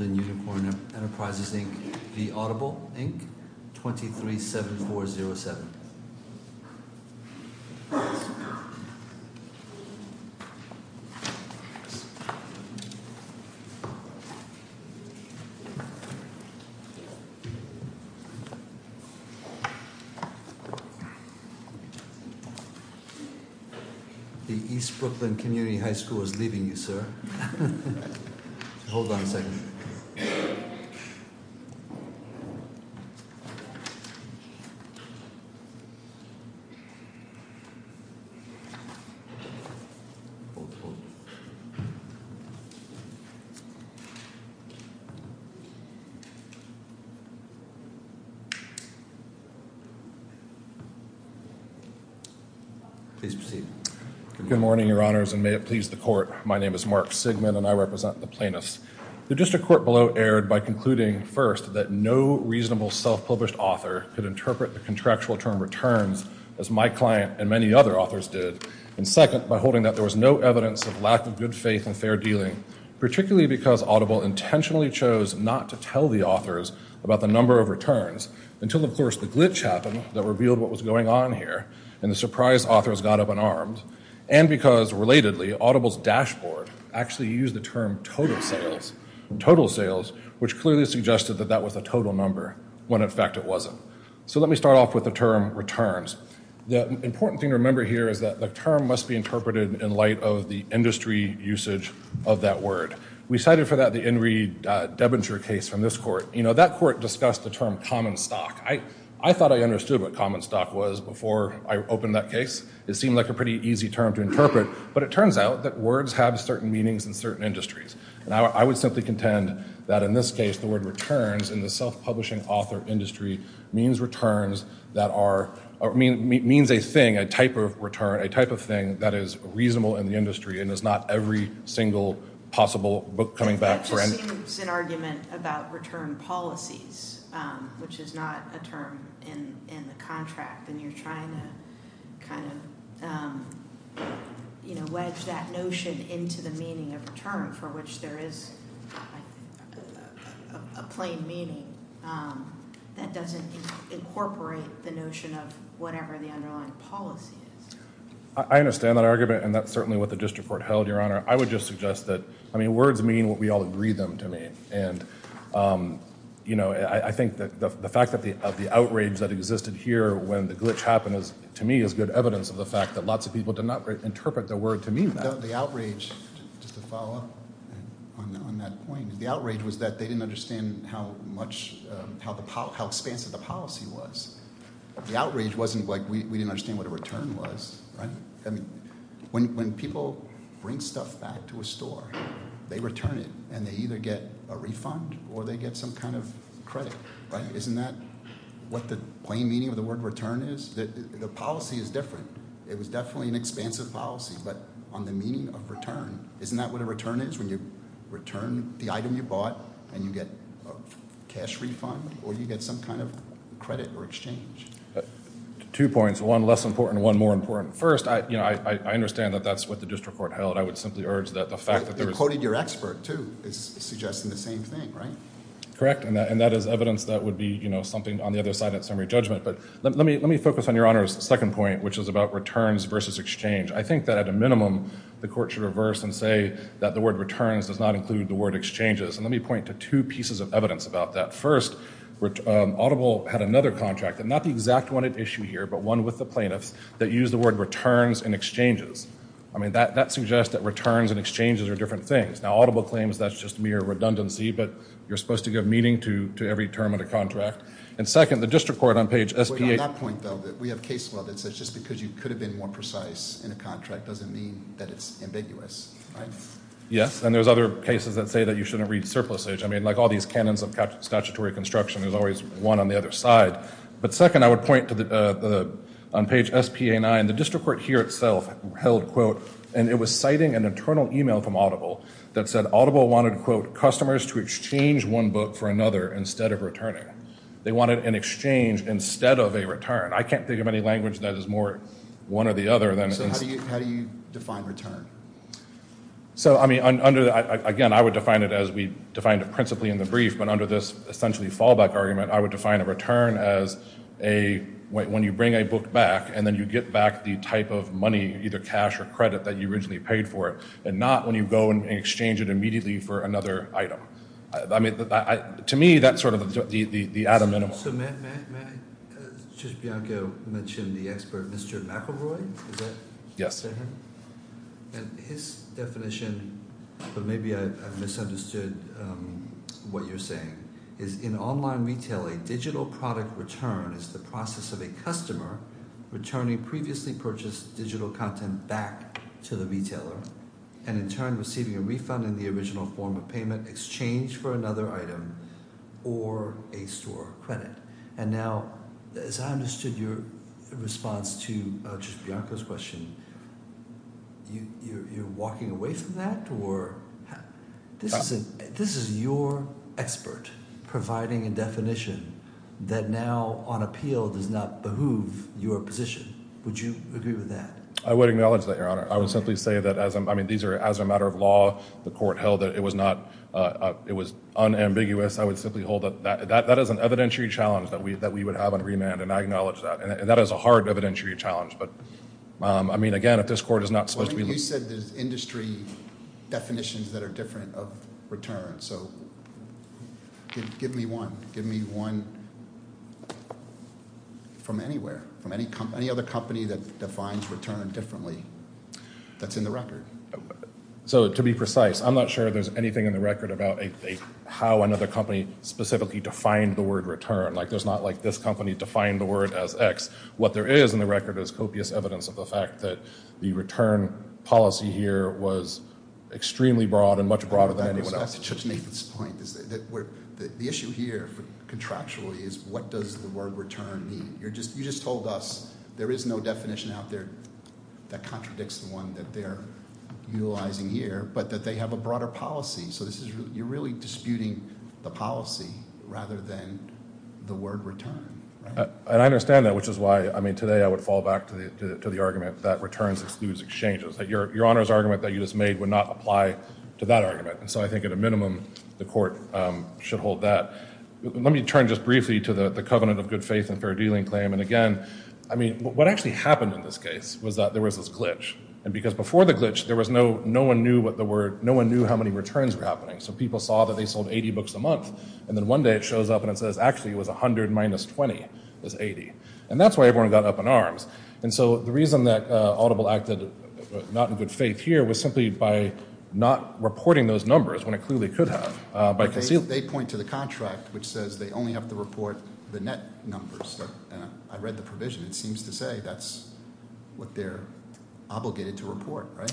237407. The East Brooklyn Community High School is leaving you, sir. Hold on a second. Please proceed. Good morning, your honors, and may it please the court. My name is Mark Sigman, and I represent the plaintiffs. The district court below erred by concluding, first, that no reasonable self-published author could interpret the contractual term returns as my client and many other authors did, and second, by holding that there was no evidence of lack of good faith and fair dealing, particularly because Audible intentionally chose not to tell the authors about the number of returns, until, of course, the glitch happened that revealed what was going on here, and the surprise authors got up unarmed, and because, relatedly, Audible's dashboard actually used the term total sales, which clearly suggested that that was a total number, when in fact it wasn't. So let me start off with the term returns. The important thing to remember here is that the term must be interpreted in light of the industry usage of that word. We cited for that the Enri Debinger case from this court. You know, that court discussed the term common stock. I thought I understood what common stock was before I opened that case. It seemed like a pretty easy term to interpret, but it turns out that words have certain meanings in certain industries, and I would simply contend that, in this case, the word returns, in the self-publishing author industry, means a thing, a type of return, a type of thing that is reasonable in the industry and is not every single possible book coming back. That just seems an argument about return policies, which is not a term in the contract, and you're trying to kind of, you know, wedge that notion into the meaning of return, for which there is a plain meaning that doesn't incorporate the notion of whatever the underlying policy is. I understand that argument, and that's certainly what the district court held, Your Honor. I would just suggest that, I mean, words mean what we all agree them to mean, and, you know, I think that the fact of the outrage that existed here when the glitch happened, to me, is good evidence of the fact that lots of people did not interpret the word to mean that. The outrage, just to follow up on that point, the outrage was that they didn't understand how expansive the policy was. The outrage wasn't like we didn't understand what a return was, right? I mean, when people bring stuff back to a store, they return it, and they either get a refund or they get some kind of credit, right? Isn't that what the plain meaning of the word return is? The policy is different. It was definitely an expansive policy, but on the meaning of return, isn't that what a return is when you return the item you bought and you get a cash refund or you get some kind of credit or exchange? Two points, one less important, one more important. First, you know, I understand that that's what the district court held. I would simply urge that the fact that there was You quoted your expert, too, suggesting the same thing, right? Correct, and that is evidence that would be, you know, something on the other side of that summary judgment, but let me focus on Your Honor's second point, which is about returns versus exchange. I think that at a minimum, the court should reverse and say that the word returns does not include the word exchanges, and let me point to two pieces of evidence about that. First, Audible had another contract, and not the exact one at issue here, but one with the plaintiffs that used the word returns and exchanges. I mean, that suggests that returns and exchanges are different things. Now, Audible claims that's just mere redundancy, but you're supposed to give meaning to every term of the contract. And second, the district court on page SPA On that point, though, we have case law that says just because you could have been more precise in a contract doesn't mean that it's ambiguous, right? Yes, and there's other cases that say that you shouldn't read surplus age. I mean, like all these canons of statutory construction, there's always one on the other side. But second, I would point to on page SPA-9, the district court here itself held, quote, and it was citing an internal email from Audible that said Audible wanted, quote, customers to exchange one book for another instead of returning. They wanted an exchange instead of a return. I can't think of any language that is more one or the other than exchange. How do you define return? So, I mean, under, again, I would define it as we defined it principally in the brief, but under this essentially fallback argument, I would define a return as a, when you bring a book back and then you get back the type of money, either cash or credit, that you originally paid for it and not when you go and exchange it immediately for another item. I mean, to me, that's sort of the Adam minimal. So may I, Judge Bianco mentioned the expert, Mr. McElroy? Yes. And his definition, but maybe I misunderstood what you're saying, is in online retail, a digital product return is the process of a customer returning previously purchased digital content back to the retailer and in turn receiving a refund in the original form of payment, exchange for another item, or a store credit. And now, as I understood your response to Judge Bianco's question, you're walking away from that or this is your expert providing a definition that now on appeal does not behoove your position. Would you agree with that? I would acknowledge that, Your Honor. I would simply say that as, I mean, these are as a matter of law, the court held that it was not, it was unambiguous. I would simply hold up that. That is an evidentiary challenge that we would have on remand, and I acknowledge that. And that is a hard evidentiary challenge. But, I mean, again, if this court is not supposed to be looking. You said there's industry definitions that are different of return. So give me one. Give me one from anywhere, from any other company that defines return differently that's in the record. So to be precise, I'm not sure there's anything in the record about how another company specifically defined the word return. Like there's not like this company defined the word as X. What there is in the record is copious evidence of the fact that the return policy here was extremely broad and much broader than anyone else. That's Judge Nathan's point. The issue here contractually is what does the word return mean? You just told us there is no definition out there that contradicts the one that they're utilizing here, but that they have a broader policy. So you're really disputing the policy rather than the word return. And I understand that, which is why, I mean, today I would fall back to the argument that returns excuse exchanges. Your Honor's argument that you just made would not apply to that argument. And so I think at a minimum the court should hold that. Let me turn just briefly to the covenant of good faith and fair dealing claim. And, again, I mean, what actually happened in this case was that there was this glitch, and because before the glitch there was no one knew what the word, no one knew how many returns were happening. So people saw that they sold 80 books a month, and then one day it shows up and it says actually it was 100 minus 20 is 80. And that's why everyone got up in arms. And so the reason that Audible acted not in good faith here was simply by not reporting those numbers when it clearly could have. They point to the contract, which says they only have to report the net numbers. I read the provision. It seems to say that's what they're obligated to report, right?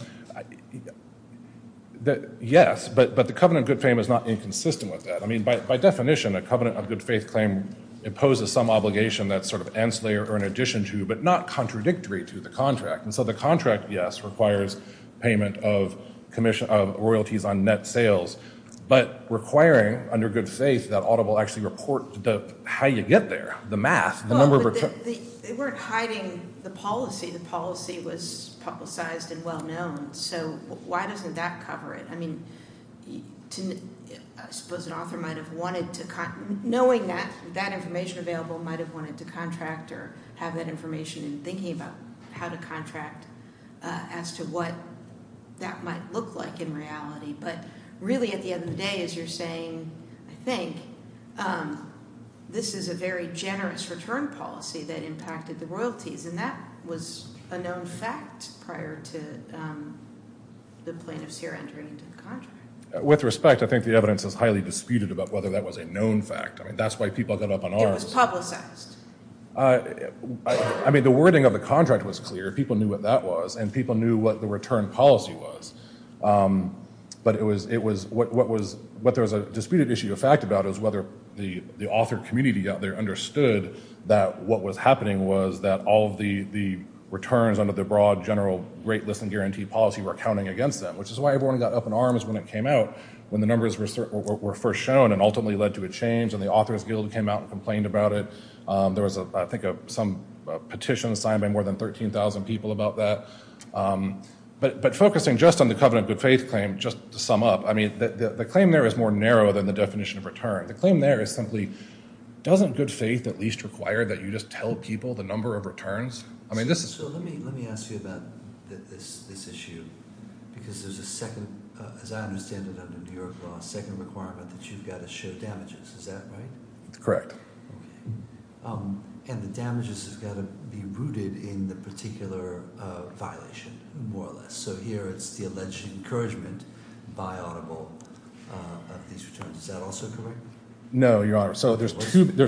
Yes, but the covenant of good fame is not inconsistent with that. I mean, by definition, a covenant of good faith claim imposes some obligation that's sort of ancillary or in addition to, but not contradictory to the contract. And so the contract, yes, requires payment of royalties on net sales, but requiring under good faith that Audible actually report how you get there, the math, the number of returns. They weren't hiding the policy. The policy was publicized and well-known. So why doesn't that cover it? I mean, I suppose an author might have wanted to, knowing that information available, might have wanted to contract or have that information in thinking about how to contract as to what that might look like in reality. But really at the end of the day, as you're saying, I think, this is a very generous return policy that impacted the royalties, and that was a known fact prior to the plaintiffs here entering into the contract. With respect, I think the evidence is highly disputed about whether that was a known fact. I mean, that's why people got up on arms. It was publicized. I mean, the wording of the contract was clear. People knew what that was, and people knew what the return policy was. But what there was a disputed issue of fact about is whether the author community out there understood that what was happening was that all of the returns under the broad general great list and guarantee policy were counting against them, which is why everyone got up on arms when it came out, when the numbers were first shown and ultimately led to a change and the Authors Guild came out and complained about it. There was, I think, some petition signed by more than 13,000 people about that. But focusing just on the covenant of good faith claim, just to sum up, I mean, the claim there is more narrow than the definition of return. The claim there is simply doesn't good faith at least require that you just tell people the number of returns? I mean, this is. So let me ask you about this issue because there's a second, as I understand it, under New York law, a second requirement that you've got to show damages. Is that right? Correct. Okay. And the damages have got to be rooted in the particular violation more or less. So here it's the alleged encouragement by audible of these returns. Is that also correct? No, Your Honor. So there's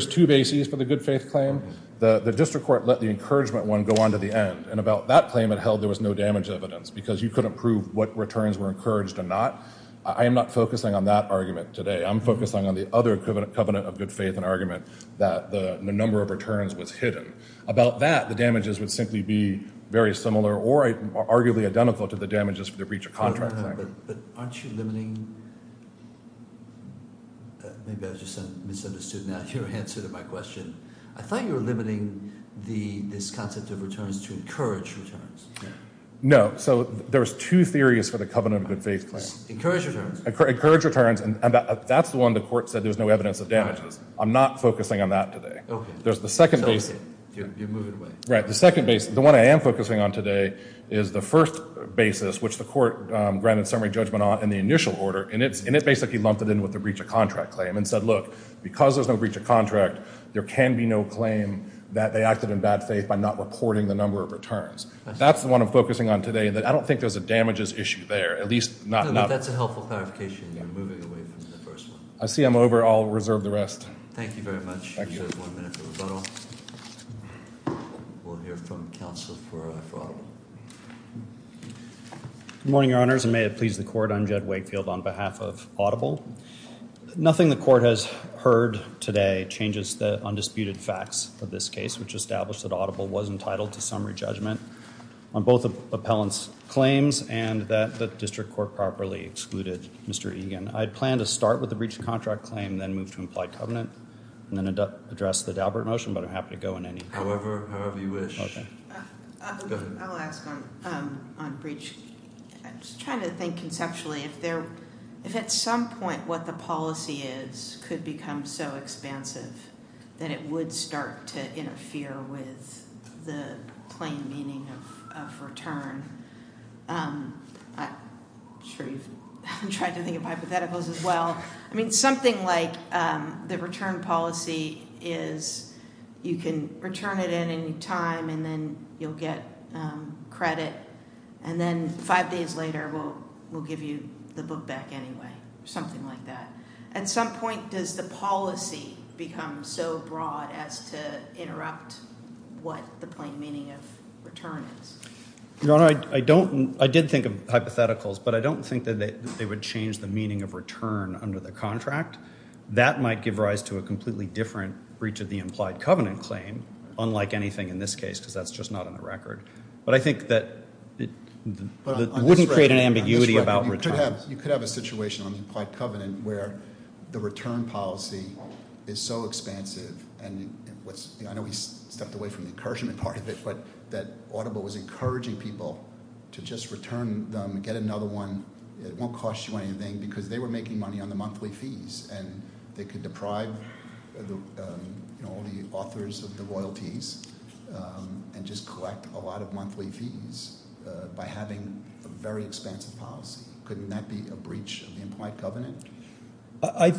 two bases for the good faith claim. The district court let the encouragement one go on to the end. And about that claim it held there was no damage evidence because you couldn't prove what returns were encouraged or not. I am not focusing on that argument today. I'm focusing on the other covenant of good faith and argument that the number of returns was hidden. About that, the damages would simply be very similar or arguably identical to the damages for the breach of contract. But aren't you limiting? Maybe I just misunderstood now your answer to my question. I thought you were limiting this concept of returns to encourage returns. No. So there's two theories for the covenant of good faith claim. Encourage returns. Encourage returns. And that's the one the court said there was no evidence of damages. I'm not focusing on that today. You're moving away. Right. The second base, the one I am focusing on today is the first basis, which the court granted summary judgment on in the initial order. And it basically lumped it in with the breach of contract claim and said, look, because there's no breach of contract, there can be no claim that they acted in bad faith by not reporting the number of returns. That's the one I'm focusing on today. I don't think there's a damages issue there, at least not enough. No, that's a helpful clarification. You're moving away from the first one. I see I'm over. I'll reserve the rest. Thank you very much. You have one minute for rebuttal. We'll hear from counsel for our problem. Good morning, Your Honors. And may it please the court. I'm Jed Wakefield on behalf of Audible. Nothing the court has heard today changes the undisputed facts of this case, which established that Audible was entitled to summary judgment on both appellant's claims and that the district court properly excluded Mr. I had planned to start with the breach of contract claim, then move to implied covenant and then address the Dalbert motion, but I'm happy to go in any. However, however you wish. I'll ask on breach. I'm just trying to think conceptually if there, if at some point what the policy is could become so expansive that it would start to interfere with the plain meaning of return. I'm sure you've tried to think of hypotheticals as well. I mean, something like the return policy is you can return it at any time and then you'll get credit and then five days later we'll, we'll give you the book back anyway, something like that. At some point, does the policy become so broad as to interrupt what the plain meaning of return is? I don't, I did think of hypotheticals, but I don't think that they would change the meaning of return under the contract. That might give rise to a completely different breach of the implied covenant claim. Unlike anything in this case, because that's just not in the record, but I think that it wouldn't create an ambiguity about returns. You could have a situation on the implied covenant where the return policy is so expansive and what's, I know he stepped away from the encouragement part of it, but that audible was encouraging people to just return them and get another one. It won't cost you anything because they were making money on the monthly fees and they could deprive the, you know, all the authors of the royalties and just collect a lot of monthly fees by having a very expansive policy. Couldn't that be a breach of the implied covenant? I,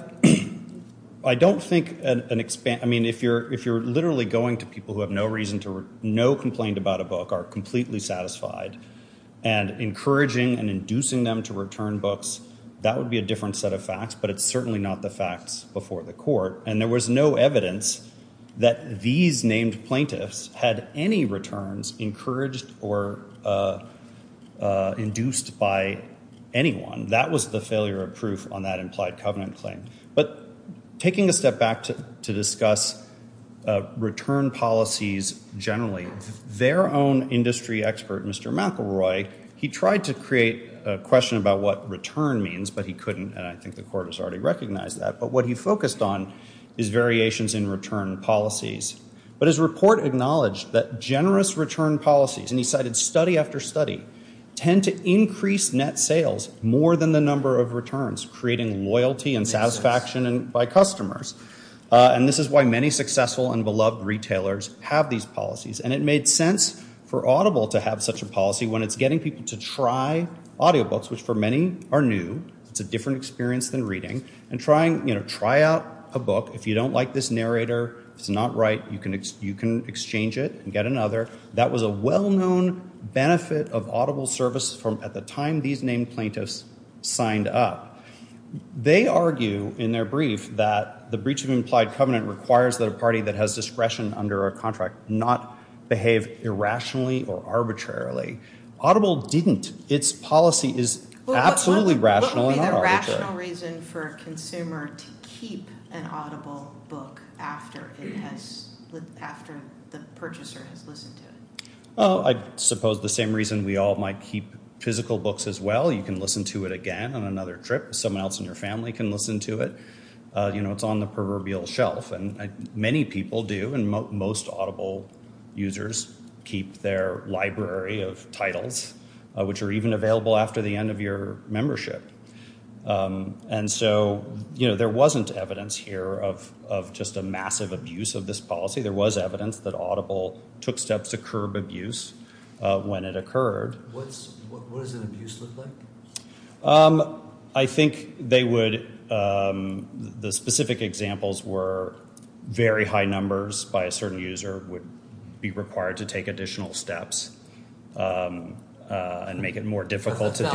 I don't think an expanse, I mean, if you're, if you're literally going to people who have no reason to know complained about a book are completely satisfied and encouraging and inducing them to return books, that would be a different set of facts, but it's certainly not the facts before the court. And there was no evidence that these named plaintiffs had any returns encouraged or induced by, by anyone that was the failure of proof on that implied covenant claim, but taking a step back to, to discuss return policies generally their own industry expert, Mr. McElroy, he tried to create a question about what return means, but he couldn't. And I think the court has already recognized that, but what he focused on is variations in return policies, but his report acknowledged that generous return policies and he cited study after study tend to increase net sales more than the number of returns, creating loyalty and satisfaction by customers. And this is why many successful and beloved retailers have these policies. And it made sense for audible to have such a policy when it's getting people to try audio books, which for many are new, it's a different experience than reading and trying, you know, try out a book. If you don't like this narrator, it's not right. You can, you can exchange it and get another. That was a well-known benefit of audible services from at the time, these named plaintiffs signed up. They argue in their brief that the breach of implied covenant requires that a party that has discretion under a contract, not behave irrationally or arbitrarily audible. Didn't its policy is absolutely rational. Reason for a consumer to keep an audible book after it has, after the purchaser has listened to it. Oh, I suppose the same reason we all might keep physical books as well. You can listen to it again on another trip. Someone else in your family can listen to it. You know, it's on the proverbial shelf and many people do. And most audible users keep their library of titles, which are even available after the end of your membership. And so, you know, there wasn't evidence here of, of just a massive abuse of this policy. There was evidence that audible took steps to curb abuse when it occurred. I think they would. The specific examples were very high numbers by a certain user would be and make it more difficult to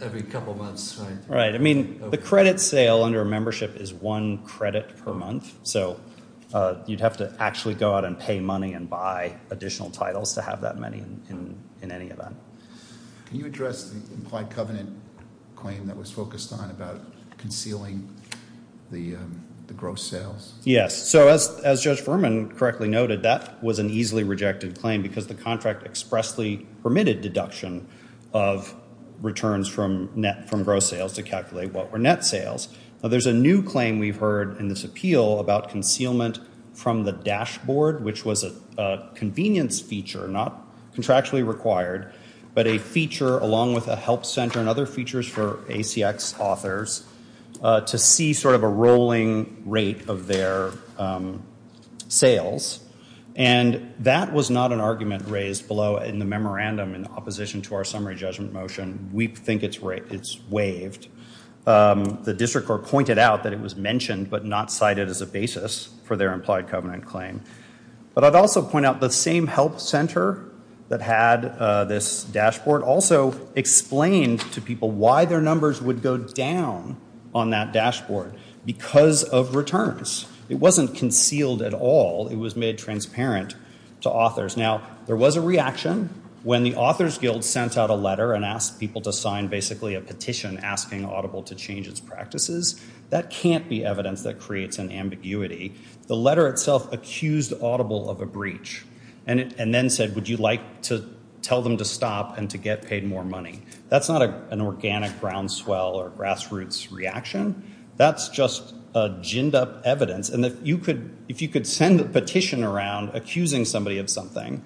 every couple of months, right? Right. I mean the credit sale under a membership is one credit per month. So you'd have to actually go out and pay money and buy additional titles to have that many in, in, in any event, can you address the implied covenant claim that was focused on about concealing the gross sales? Yes. So as, as judge Furman correctly noted, that was an easily rejected claim because the contract expressly permitted deduction of returns from net from gross sales to calculate what were net sales. Now there's a new claim. We've heard in this appeal about concealment from the dashboard, which was a convenience feature, not contractually required, but a feature along with a help center and other features for ACX authors to see sort of a rolling rate of their sales. And that was not an argument raised below in the memorandum in opposition to our summary judgment motion. We think it's right. It's waived. The district court pointed out that it was mentioned, but not cited as a basis for their implied covenant claim. But I'd also point out the same help center that had this dashboard also explained to people why their numbers would go down on that dashboard because of returns. It wasn't concealed at all. It was made transparent to authors. Now there was a reaction when the author's guild sent out a letter and asked people to sign basically a petition asking audible to change its practices. That can't be evidence that creates an ambiguity. The letter itself accused audible of a breach and then said, would you like to tell them to stop and to get paid more money? That's not an organic groundswell or grassroots reaction. That's just a ginned up evidence. And if you could, if you could send a petition around accusing somebody of something,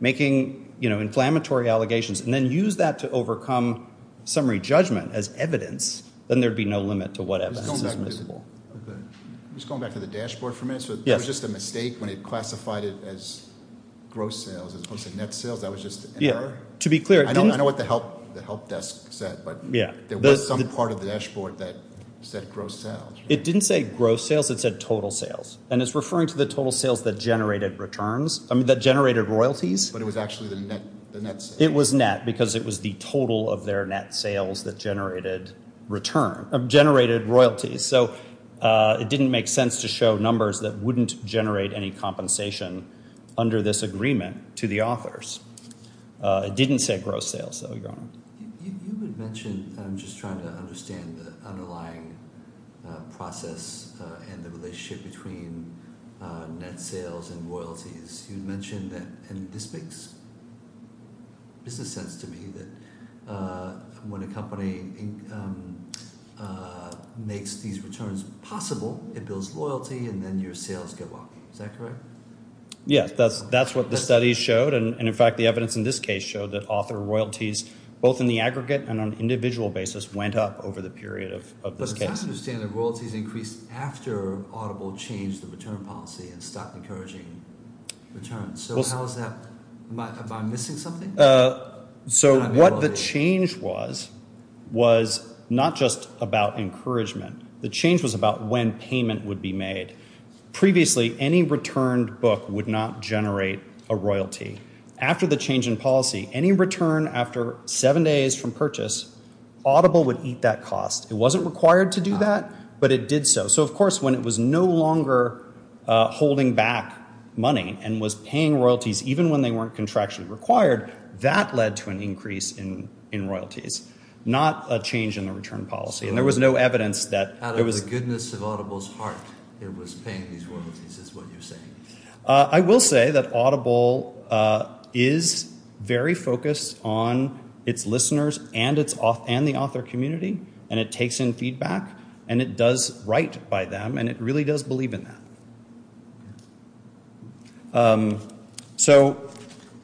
making, you know, inflammatory allegations, and then use that to overcome summary judgment as evidence, then there'd be no limit to what evidence is miscible. I'm just going back to the dashboard for a minute. So it was just a mistake when it classified it as gross sales as opposed to net sales. That was just to be clear. I know what the help, the help desk said, but there was some part of the dashboard that said gross sales. It didn't say gross sales. It said total sales. And it's referring to the total sales that generated returns. I mean that generated royalties, but it was actually the net. It was net because it was the total of their net sales that generated return of generated royalties. So it didn't make sense to show numbers that wouldn't generate any compensation under this agreement to the authors. It didn't say gross sales. You had mentioned, I'm just trying to understand the underlying process and the relationship between net sales and royalties. You'd mentioned that, and this makes business sense to me that when a company makes these returns possible, it builds loyalty and then your sales go up. Is that correct? Yes, that's, that's what the studies showed. And in fact, the evidence in this case showed that author royalties, both in the aggregate and on an individual basis went up over the period of, of this case. I understand that royalties increased after Audible changed the return policy and stopped encouraging returns. So how is that, am I missing something? So what the change was, was not just about encouragement. The change was about when payment would be made. Previously, any returned book would not generate a royalty. After the change in policy, any return after seven days from purchase Audible would eat that cost. It wasn't required to do that, but it did so. So of course, when it was no longer holding back money and was paying royalties, even when they weren't contractually required, that led to an increase in, in royalties, not a change in the return policy. And there was no evidence that. Out of the goodness of Audible's heart, it was paying these royalties, I will say that Audible is very focused on its listeners and it's off and the author community, and it takes in feedback and it does right by them. And it really does believe in that. So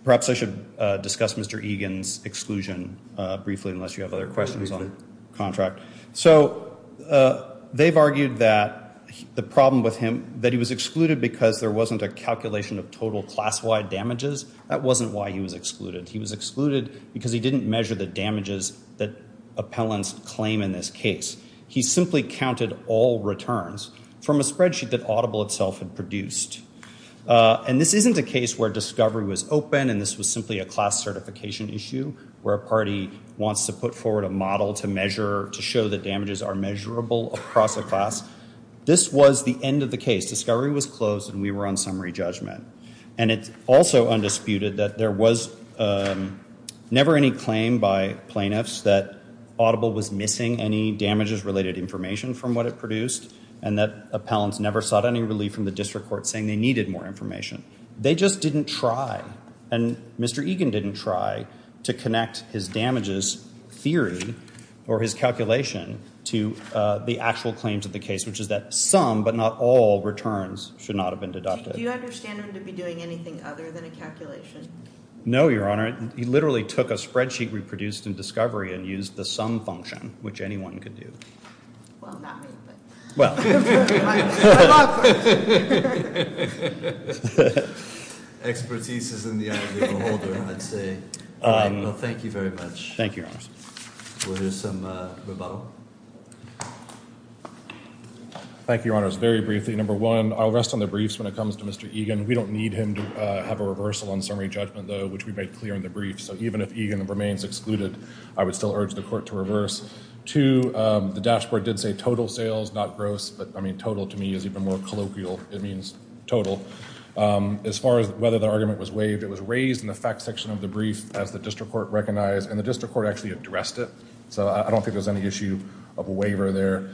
perhaps I should discuss Mr. Egan's exclusion briefly, unless you have other questions on contract. So they've argued that the problem with him, that he was excluded because there wasn't a calculation of total class-wide damages. That wasn't why he was excluded. He was excluded because he didn't measure the damages that appellants claim in this case. He simply counted all returns from a spreadsheet that Audible itself had produced. And this isn't a case where discovery was open. And this was simply a class certification issue where a party wants to put forward a model to measure, to show that damages are measurable across a class. This was the end of the case. Discovery was closed and we were on summary judgment. And it's also undisputed that there was never any claim by plaintiffs that Audible was missing any damages related information from what it produced. And that appellants never sought any relief from the district court saying they needed more information. They just didn't try. And Mr. Egan didn't try to connect his damages theory or his calculation to the actual claims of the case, which is that some, but not all, returns should not have been deducted. Do you understand him to be doing anything other than a calculation? No, Your Honor. He literally took a spreadsheet we produced in discovery and used the sum function, which anyone could do. Well, not me, but. My law firm. Expertise is in the eye of the beholder, I'd say. Well, thank you very much. Thank you, Your Honor. We'll do some rebuttal. Thank you, Your Honor. Very briefly, number one, I'll rest on the briefs when it comes to Mr. Egan. We don't need him to have a reversal on summary judgment, though, which we made clear in the brief. So even if Egan remains excluded, I would still urge the court to reverse. Two, the dashboard did say total sales, not gross, but I mean, total to me is even more colloquial. It means total. As far as whether the argument was waived, it was raised in the fact section of the brief as the district court recognized and the district court actually addressed it. So I don't think there's any issue of a waiver there.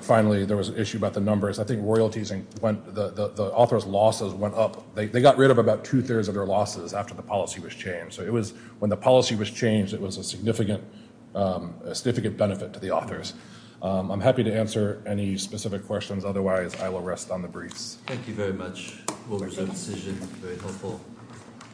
Finally, there was an issue about the numbers. I think royalties and when the author's losses went up, they got rid of about two thirds of their losses after the policy was changed. So it was when the policy was changed, it was a significant, a significant benefit to the authors. I'm happy to answer any specific questions. Otherwise I will rest on the briefs. Thank you very much. We'll reserve decision. Very helpful.